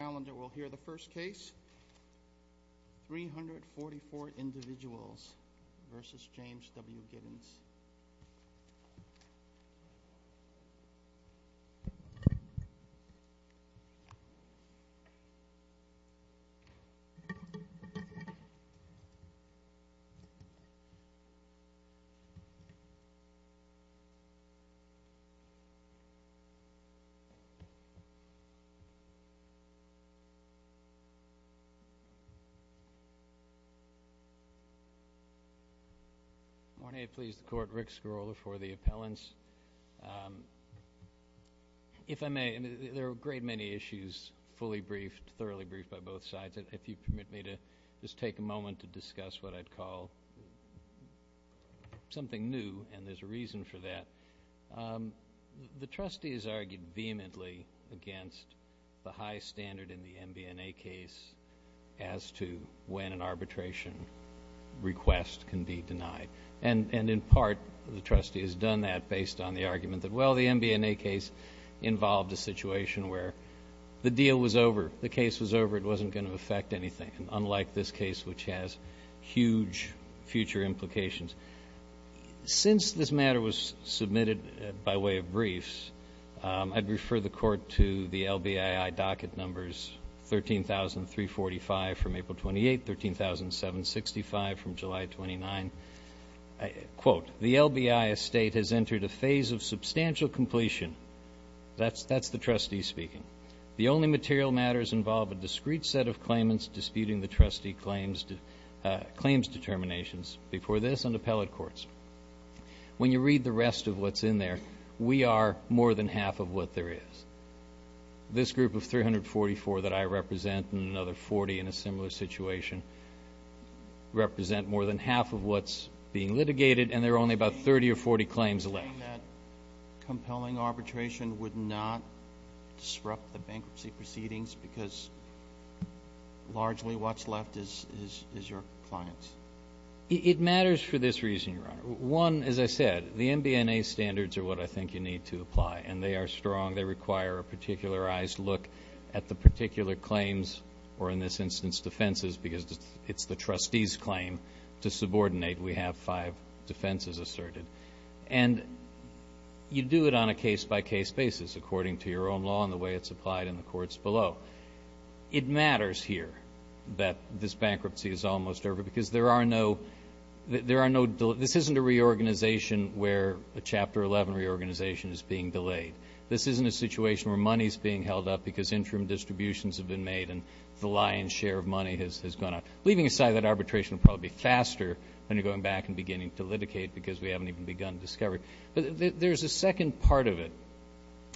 The calendar will hear the first case, 344 individuals versus James W. Giddens. Morning, I please the Court. Rick Skorola for the appellants. If I may, there are a great many issues fully briefed, thoroughly briefed by both sides. If you permit me to just take a moment to discuss what I'd call something new, and there's a reason for that. The trustee has argued vehemently against the high standard in the MBNA case as to when an arbitration request can be denied. And in part, the trustee has done that based on the argument that, well, the MBNA case involved a situation where the deal was over, the case was over, it wasn't going to affect anything, unlike this case, which has huge future implications. Since this matter was submitted by way of briefs, I'd refer the Court to the LBII docket numbers 13,345 from April 28, 13,765 from July 29. Quote, the LBII estate has entered a phase of substantial completion. That's the trustee speaking. The only material matters involve a discrete set of claimants disputing the trustee claims determinations. Before this and appellate courts. When you read the rest of what's in there, we are more than half of what there is. This group of 344 that I represent and another 40 in a similar situation represent more than half of what's being litigated, and there are only about 30 or 40 claims left. Do you think that compelling arbitration would not disrupt the bankruptcy proceedings because largely what's left is your clients? It matters for this reason, Your Honor. One, as I said, the MBNA standards are what I think you need to apply, and they are strong. They require a particularized look at the particular claims, or in this instance defenses, because it's the trustee's claim to subordinate. We have five defenses asserted. And you do it on a case-by-case basis according to your own law and the way it's applied in the courts below. It matters here that this bankruptcy is almost over because there are no, there are no, this isn't a reorganization where a Chapter 11 reorganization is being delayed. This isn't a situation where money's being held up because interim distributions have been made and the lion's share of money has gone out. Leaving aside that arbitration will probably be faster when you're going back and beginning to litigate because we haven't even begun to discover it. But there's a second part of it,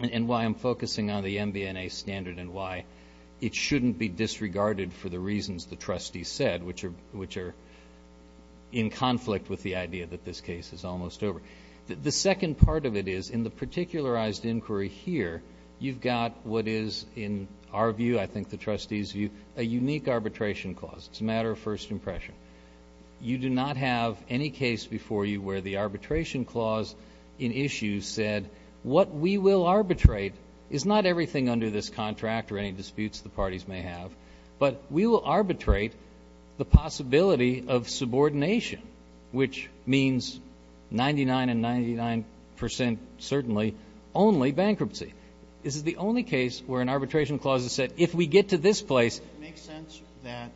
and why I'm focusing on the MBNA standard and why it shouldn't be disregarded for the trustee said, which are in conflict with the idea that this case is almost over. The second part of it is, in the particularized inquiry here, you've got what is, in our view, I think the trustee's view, a unique arbitration clause. It's a matter of first impression. You do not have any case before you where the arbitration clause in issue said, what we will arbitrate is not everything under this contract or any disputes the parties may have, but we will arbitrate the possibility of subordination, which means 99 and 99% certainly only bankruptcy. This is the only case where an arbitration clause has said, if we get to this place. Does it make sense that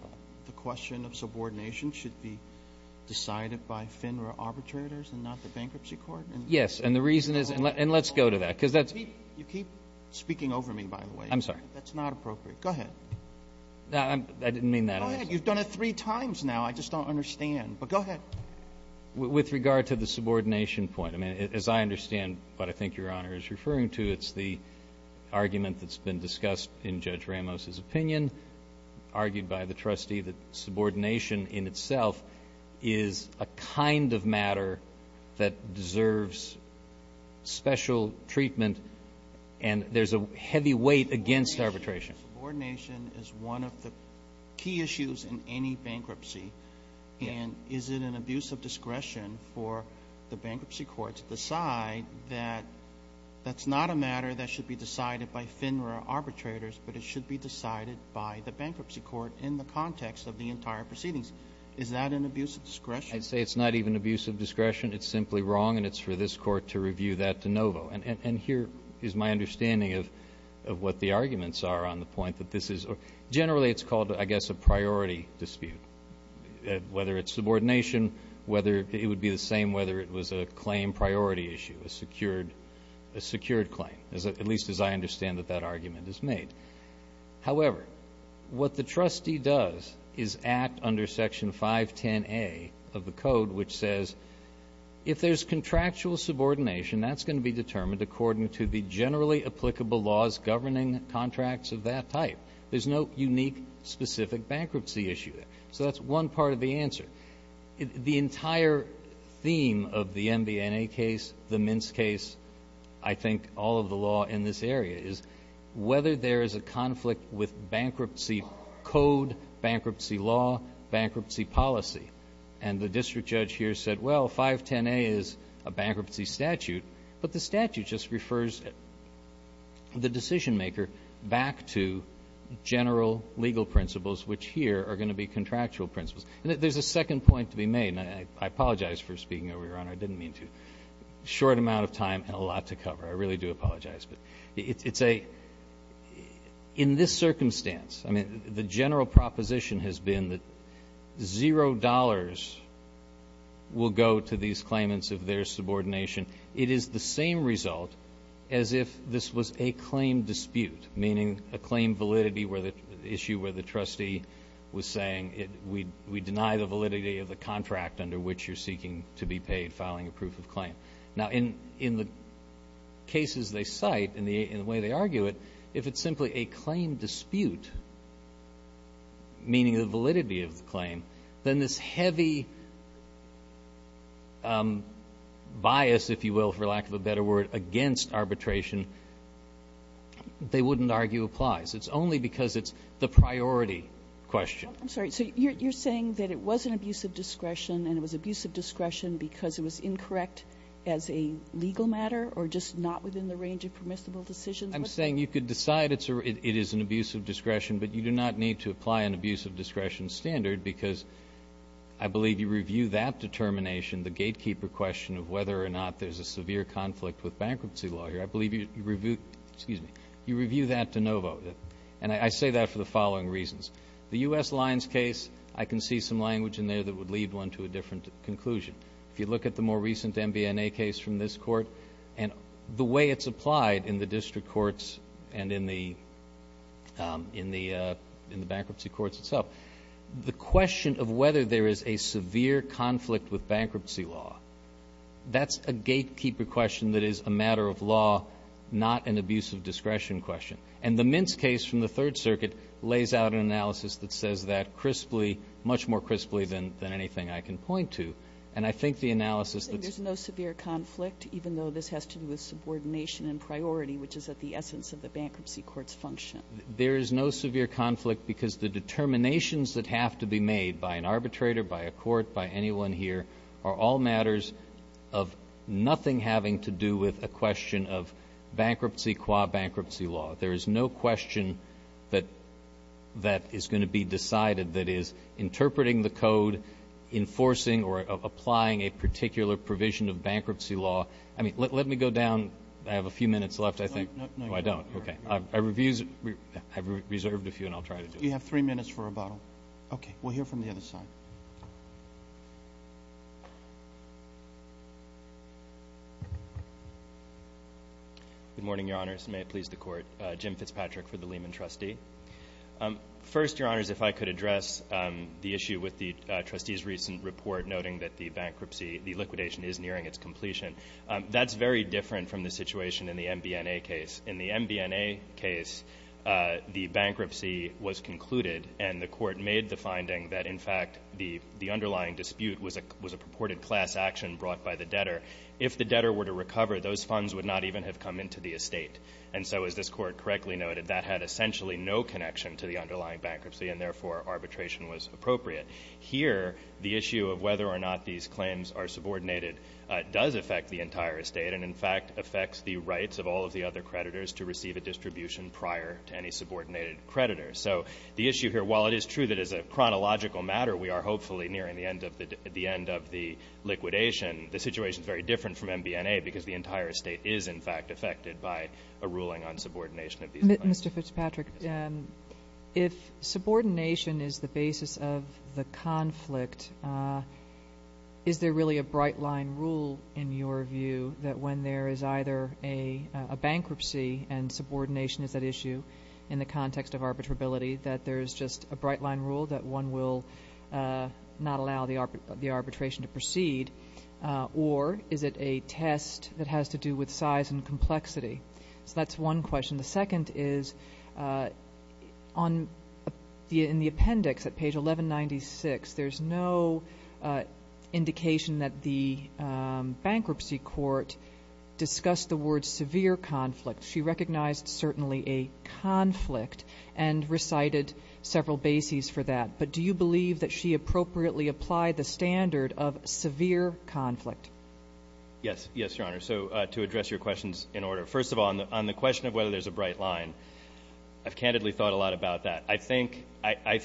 the question of subordination should be decided by FINRA arbitrators and not the bankruptcy court? Yes, and the reason is, and let's go to that. You keep speaking over me, by the way. I'm sorry. That's not appropriate. Go ahead. I didn't mean that. Go ahead. You've done it three times now. I just don't understand. But go ahead. With regard to the subordination point, as I understand what I think Your Honor is referring to, it's the argument that's been discussed in Judge Ramos' opinion, argued by the trustee that subordination in itself is a kind of matter that deserves special treatment, and there's a heavy weight against arbitration. Subordination is one of the key issues in any bankruptcy, and is it an abuse of discretion for the bankruptcy court to decide that that's not a matter that should be decided by FINRA arbitrators, but it should be decided by the bankruptcy court in the context of the entire proceedings? Is that an abuse of discretion? I'd say it's not even abuse of discretion. It's simply wrong, and it's for this court to review that de novo, and here is my understanding of what the arguments are on the point that this is. Generally, it's called, I guess, a priority dispute, whether it's subordination, whether it would be the same, whether it was a claim priority issue, a secured claim, at least as I understand that that argument is made. However, what the trustee does is act under Section 510A of the Code, which says, if there's contractual subordination, that's going to be determined according to the generally applicable laws governing contracts of that type. There's no unique, specific bankruptcy issue there, so that's one part of the answer. The entire theme of the MBNA case, the Mintz case, I think all of the law in this area is whether there is a conflict with bankruptcy code, bankruptcy law, bankruptcy policy, and the district judge here said, well, 510A is a bankruptcy statute, but the statute just refers the decision-maker back to general legal principles, which here are going to be contractual principles. There's a second point to be made, and I apologize for speaking over your honor. I didn't mean to. Short amount of time and a lot to cover. I really do apologize, but it's a, in this will go to these claimants of their subordination. It is the same result as if this was a claim dispute, meaning a claim validity where the issue where the trustee was saying, we deny the validity of the contract under which you're seeking to be paid, filing a proof of claim. Now, in the cases they cite and the way they argue it, if it's simply a claim dispute, meaning the validity of the claim, then this heavy bias, if you will, for lack of a better word, against arbitration, they wouldn't argue applies. It's only because it's the priority question. I'm sorry. So you're saying that it was an abuse of discretion and it was abuse of discretion because it was incorrect as a legal matter or just not within the range of permissible decisions? I'm saying you could decide it is an abuse of discretion, but you do not need to apply an abuse of discretion standard because I believe you review that determination, the gatekeeper question of whether or not there's a severe conflict with bankruptcy lawyer. I believe you review, excuse me, you review that de novo. And I say that for the following reasons. The U.S. Lions case, I can see some language in there that would lead one to a different conclusion. If you look at the more recent MBNA case from this court and the way it's applied in the district courts and in the bankruptcy courts itself, the question of whether there is a severe conflict with bankruptcy law, that's a gatekeeper question that is a matter of law, not an abuse of discretion question. And the Mintz case from the Third Circuit lays out an analysis that says that crisply, much more crisply than anything I can point to. And I think the analysis that's no severe conflict, even though this has to do with subordination and priority, which is at the essence of the bankruptcy court's function. There is no severe conflict because the determinations that have to be made by an arbitrator, by a court, by anyone here, are all matters of nothing having to do with a question of bankruptcy qua bankruptcy law. There is no question that is going to be decided that is interpreting the code, enforcing or applying a particular provision of bankruptcy law. I mean, let me go down. I have a few minutes left, I think. No, no. No, I don't. Okay. I've reserved a few and I'll try to do it. You have three minutes for rebuttal. Okay. We'll hear from the other side. Good morning, Your Honors. May it please the Court. Jim Fitzpatrick for the Lehman Trustee. First, Your Honors, if I could address the issue with the Trustee's recent report noting that the bankruptcy, the liquidation is nearing its completion. That's very different from the situation in the MBNA case. In the MBNA case, the bankruptcy was concluded and the Court made the finding that, in fact, the underlying dispute was a purported class action brought by the debtor. If the debtor were to recover, those funds would not even have come into the estate. And so, as this Court correctly noted, that had essentially no connection to the issue of whether or not these claims are subordinated does affect the entire estate and, in fact, affects the rights of all of the other creditors to receive a distribution prior to any subordinated creditor. So, the issue here, while it is true that as a chronological matter, we are hopefully nearing the end of the liquidation, the situation is very different from MBNA because the entire estate is, in fact, affected by a ruling on subordination of these claims. Mr. Fitzpatrick, if subordination is the basis of the conflict, is there really a bright-line rule, in your view, that when there is either a bankruptcy and subordination is at issue in the context of arbitrability, that there is just a bright-line rule that one will not allow the arbitration to proceed, or is it a test that has to do with size and complexity? So, that's one question. The second is, in the appendix at page 1196, there's no indication that the bankruptcy court discussed the word severe conflict. She recognized certainly a conflict and recited several bases for that, but do you believe that she appropriately applied the standard of severe conflict? Yes, Your Honor. So, to address your questions in order, first of all, on the question of whether there's a bright-line, I've candidly thought a lot about that. I think, I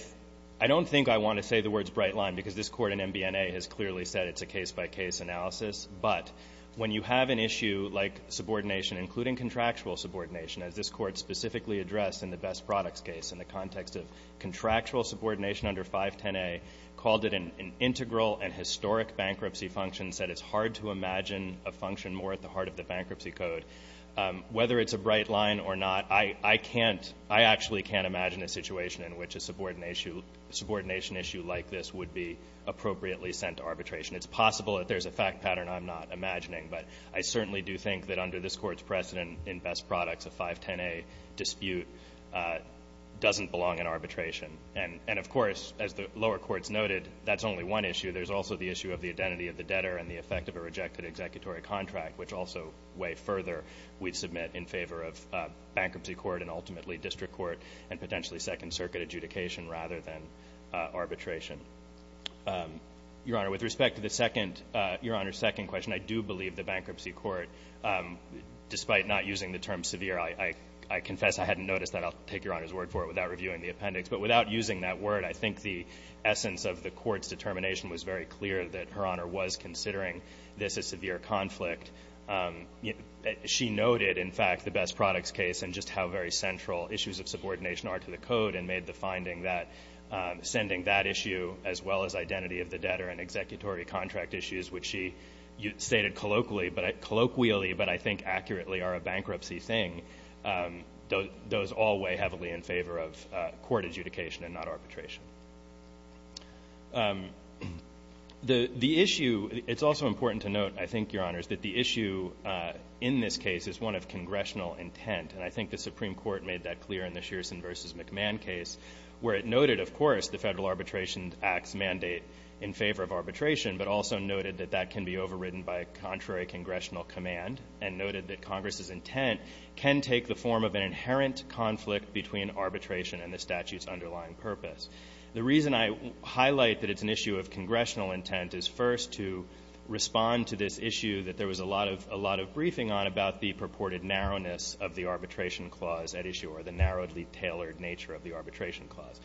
don't think I want to say the words bright-line because this Court in MBNA has clearly said it's a case-by-case analysis, but when you have an issue like subordination, including contractual subordination, as this Court specifically addressed in the Best Products case in the context of contractual subordination under 510A, called it an integral and historic bankruptcy function, said it's hard to imagine a function more at the level of a bankruptcy code. Whether it's a bright-line or not, I, I can't, I actually can't imagine a situation in which a subordination, subordination issue like this would be appropriately sent to arbitration. It's possible that there's a fact pattern I'm not imagining, but I certainly do think that under this Court's precedent in Best Products, a 510A dispute doesn't belong in arbitration. And, and of course, as the lower courts noted, that's only one issue. There's also the issue of the identity of the debtor and the effect of a rejected executory contract, which also way further we'd submit in favor of bankruptcy court and ultimately district court and potentially Second Circuit adjudication rather than arbitration. Your Honor, with respect to the second, your Honor's second question, I do believe the bankruptcy court, despite not using the term severe, I, I, I confess I hadn't noticed that. I'll take your Honor's word for it without reviewing the appendix. But without using that word, I think the essence of the Court's determination was very clear that Her Honor was considering this as severe conflict. She noted, in fact, the Best Products case and just how very central issues of subordination are to the code and made the finding that sending that issue as well as identity of the debtor and executory contract issues, which she stated colloquially, but I, colloquially, but I think accurately are a bankruptcy thing, those, those all weigh heavily in favor of court adjudication and not arbitration. The, the issue, it's also important to note I think, Your Honor, is that the issue in this case is one of congressional intent and I think the Supreme Court made that clear in the Shearson v. McMahon case where it noted, of course, the Federal Arbitration Act's mandate in favor of arbitration, but also noted that that can be overridden by contrary congressional command and noted that Congress's intent can take the form of an inherent conflict between arbitration and the statute's underlying purpose. The reason I highlight that it's an issue of congressional intent is first to respond to this issue that there was a lot of, a lot of briefing on about the purported narrowness of the arbitration clause at issue or the narrowly tailored nature of the arbitration clause.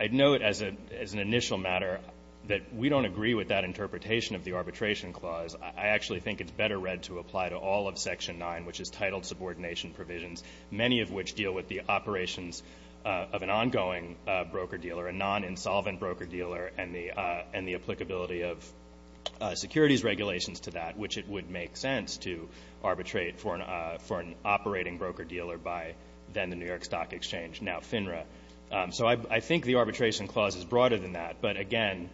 I'd note as a, as an initial matter that we don't agree with that interpretation of the arbitration clause. I actually think it's better read to apply to all of Section 9, which is titled Subordination Provisions, many of which deal with the operations of an ongoing broker-dealer, a non-insolvent broker-dealer, and the, and the applicability of securities regulations to that, which it would make sense to arbitrate for an, for an operating broker-dealer by then the New York Stock Exchange, now FINRA. So I, I think the arbitration clause is broader than that, but again,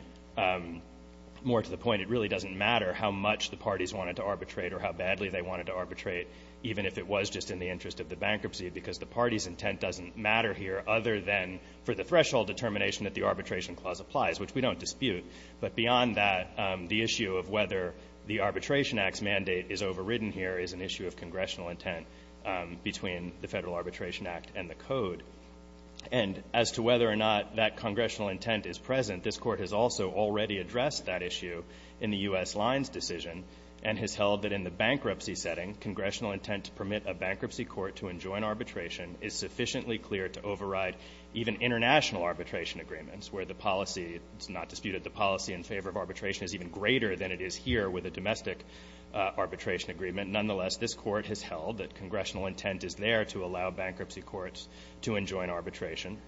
more to the point, it really doesn't matter how much the parties wanted to arbitrate or how badly they wanted to arbitrate, even if it was just in the interest of the bankruptcy, because the party's intent doesn't matter here other than for the threshold determination that the on that, the issue of whether the Arbitration Act's mandate is overridden here is an issue of congressional intent between the Federal Arbitration Act and the Code. And as to whether or not that congressional intent is present, this Court has also already addressed that issue in the U.S. Lines decision, and has held that in the bankruptcy setting congressional intent to permit a bankruptcy court to enjoin arbitration is sufficiently clear to override even international arbitration agreements, where the policy in favor of arbitration is even greater than it is here with a domestic arbitration agreement. Nonetheless, this Court has held that congressional intent is there to allow bankruptcy courts to enjoin arbitration.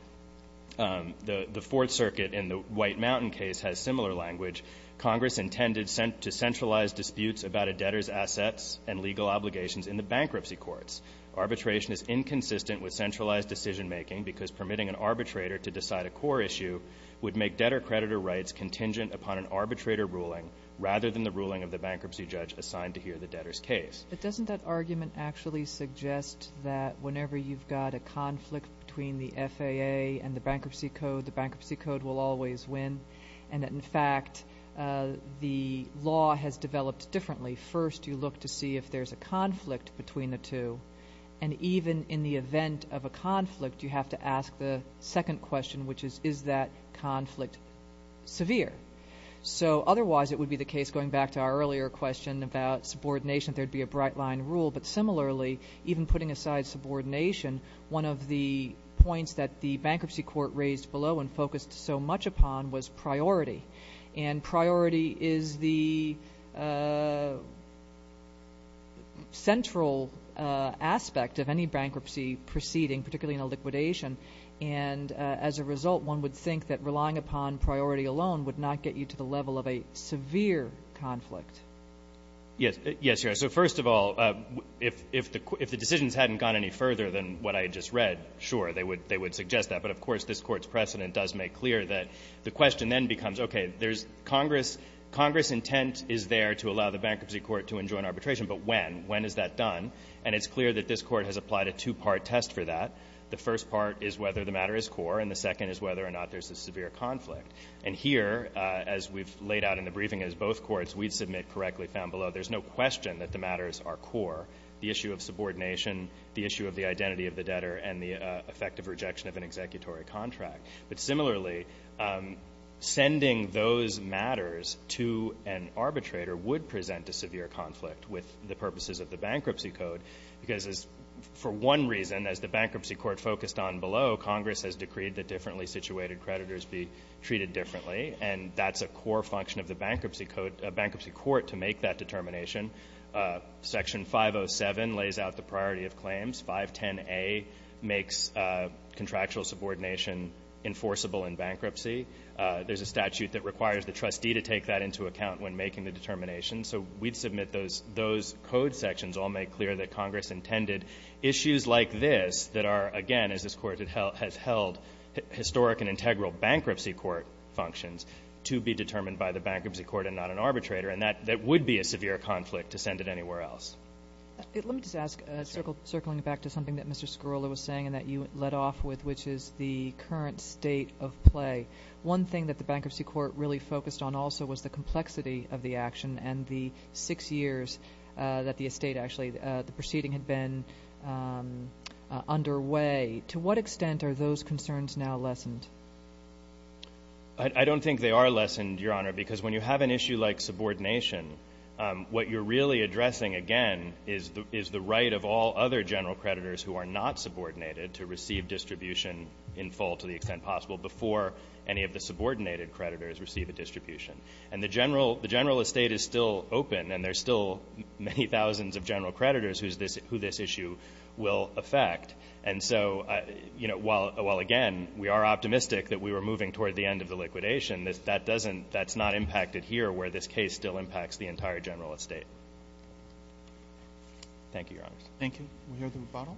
The Fourth Circuit in the White Mountain case has similar language. Congress intended to centralize disputes about a debtor's assets and legal obligations in the bankruptcy courts. Arbitration is inconsistent with centralized decision-making because permitting an arbitrator to decide a core issue would make debtor-creditor rights contingent upon an arbitrator ruling rather than the ruling of the bankruptcy judge assigned to hear the debtor's case. But doesn't that argument actually suggest that whenever you've got a conflict between the FAA and the Bankruptcy Code, the Bankruptcy Code will always win? And that, in fact, the law has developed differently. First, you look to see if there's a conflict between the two, and even in the event of a conflict, you have to ask the conflict severe. So otherwise, it would be the case going back to our earlier question about subordination, there'd be a bright-line rule, but similarly, even putting aside subordination, one of the points that the bankruptcy court raised below and focused so much upon was priority. And priority is the central aspect of any bankruptcy proceeding, particularly in a liquidation, and as a result, one would think that relying upon priority alone would not get you to the level of a severe conflict. Yes, so first of all, if the decisions hadn't gone any further than what I just read, sure, they would suggest that, but of course this Court's precedent does make clear that the question then becomes, okay, there's Congress intent is there to allow the bankruptcy court to enjoin arbitration, but when? When is that done? And it's clear that this Court has applied a two-part test for that. The first part is whether the matter is core, and the second is whether or not there's a severe conflict. And here, as we've laid out in the briefing as both courts, we'd submit correctly found below, there's no question that the matters are core. The issue of subordination, the issue of the identity of the debtor, and the effect of rejection of an executory contract. But similarly, sending those matters to an arbitrator would present a severe conflict with the purposes of the bankruptcy code because, for one reason, as the bankruptcy court focused on below, Congress has decreed that differently situated creditors be treated differently and that's a core function of the bankruptcy court to make that determination. Section 507 lays out the priority of claims. 510A makes contractual subordination enforceable in bankruptcy. There's a statute that requires the trustee to take that into account when making the determination, so we'd submit those code sections all make clear that Congress intended issues like this that are, again, as this court has held historic and integral bankruptcy court functions, to be determined by the bankruptcy court and not an arbitrator. And that would be a severe conflict to send it anywhere else. Let me just ask, circling back to something that Mr. Scarola was saying and that you led off with, which is the current state of play. One thing that the bankruptcy court really focused on also was the complexity of the action and the six years that the estate actually, the proceeding had been underway. To what extent are those concerns now lessened? I don't think they are lessened, Your Honor, because when you have an issue like subordination, what you're really addressing, again, is the right of all other general creditors who are not subordinated to receive distribution in full to the extent possible before any of the subordinated creditors receive a distribution. And the general estate is still open and there's still many thousands of general creditors who this issue will affect. And so, while again, we are optimistic that we are moving toward the end of the liquidation, that's not impacted here where this case still impacts the entire general estate. Thank you, Your Honor. Thank you. We'll hear the rebuttal.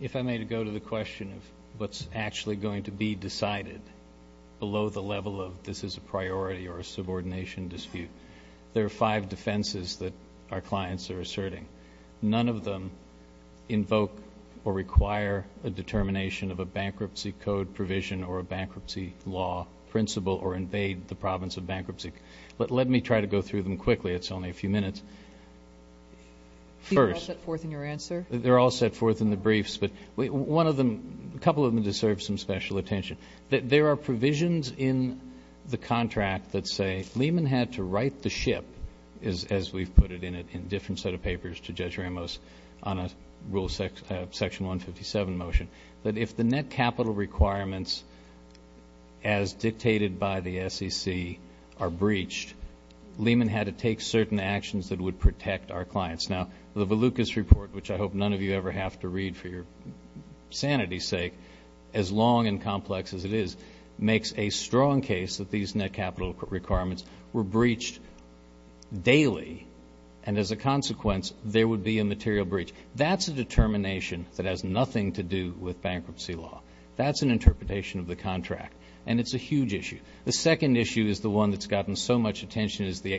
If I may go to the question of what's actually going to be decided below the level of this is a priority or a subordination dispute, there are five defenses that our clients are asserting. None of them invoke or require a determination of a bankruptcy code provision or a bankruptcy law principle or invade the province of bankruptcy. But let me try to go through them quickly. It's only a few minutes. First, they're all set forth in the briefs, but a couple of them deserve some special attention. There are provisions in the contract that say Lehman had to write the ship, as we've put it in a different set of papers to Judge Ramos on a rule section 157 motion, that if the net capital requirements as dictated by the SEC are breached, Lehman had to take certain actions that would protect our clients. Now, the Valucas report, which I hope none of you ever have to read for your sanity's sake, as long and complex as it is, makes a strong case that these net capital requirements were breached daily and, as a consequence, there would be a material breach. That's a determination that has nothing to do with bankruptcy law. That's an interpretation of the contract, and it's a huge issue. The second issue is the one that's gotten so much attention is the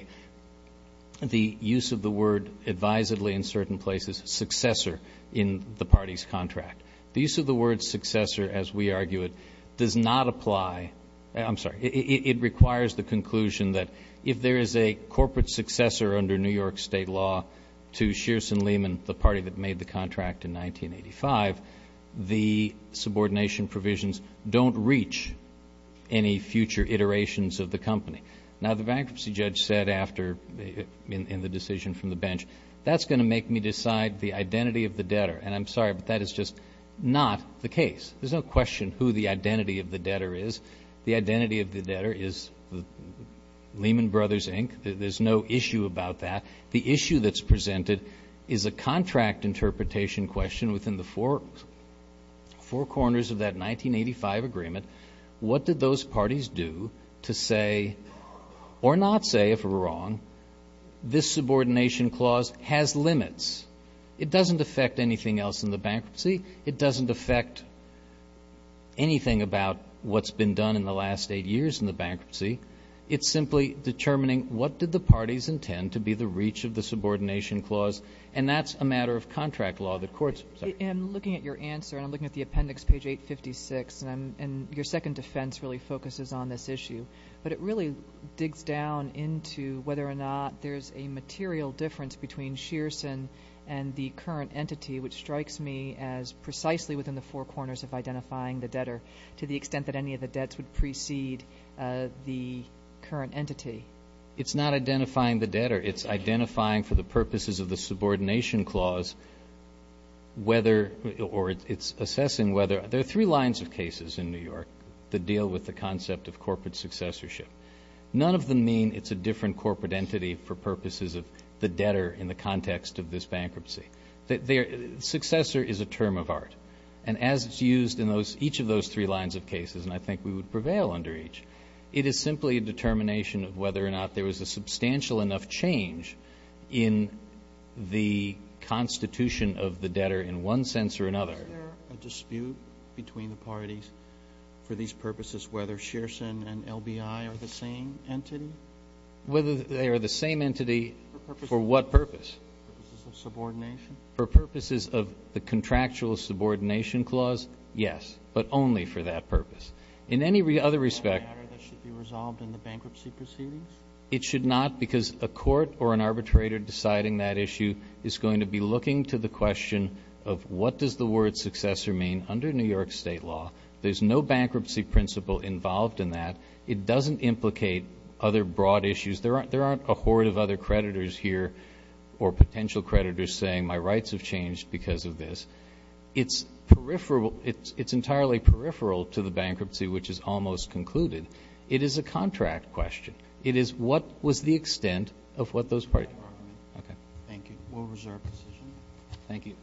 use of the word advisedly in certain places, successor, in the party's contract. The use of the word successor, as we argue it, does not apply I'm sorry, it requires the conclusion that if there is a corporate successor under New York State law to Shearson Lehman, the party that made the contract in 1985, the subordination provisions don't reach any future iterations of the company. Now, the bankruptcy judge said after in the decision from the bench, that's going to make me decide the identity of the debtor, and I'm sorry, but that is just not the case. There's no question who the identity of the debtor is. The identity of the debtor is Lehman Brothers, Inc. There's no issue about that. The issue that's presented is a contract interpretation question within the four corners of that 1985 agreement. What did those parties do to say or not say, if we're wrong, this subordination clause has limits. It doesn't affect anything else in the bankruptcy. It doesn't affect anything about what's been done in the last eight years in the bankruptcy. It's simply determining what did the parties intend to be the reach of the subordination clause and that's a matter of contract law that courts I'm looking at the appendix, page 856, and your second defense really focuses on this issue, but it really digs down into whether or not there's a material difference between Shearson and the current entity, which strikes me as precisely within the four corners of identifying the debtor to the extent that any of the debts would precede the current entity. It's not identifying the debtor. It's identifying for the purposes of the subordination clause whether, or it's assessing whether, there are three lines of cases in corporate successorship. None of them mean it's a different corporate entity for purposes of the debtor in the context of this bankruptcy. Successor is a term of art, and as it's used in each of those three lines of cases, and I think we would prevail under each, it is simply a determination of whether or not there was a substantial enough change in the constitution of the debtor For these purposes, whether Shearson and LBI are the same entity? Whether they are the same entity, for what purpose? For purposes of subordination? For purposes of the contractual subordination clause, yes, but only for that purpose. In any other respect, it should be resolved in the bankruptcy proceedings? It should not, because a court or an arbitrator deciding that issue is going to be looking to the question of what does the word successor mean under New York State law? There's no bankruptcy principle involved in that. It doesn't implicate other broad issues. There aren't a horde of other creditors here, or potential creditors saying my rights have changed because of this. It's entirely peripheral to the bankruptcy, which is almost concluded. It is a contract question. It is what was the extent of what those parties... Thank you. We'll reserve position. Thank you.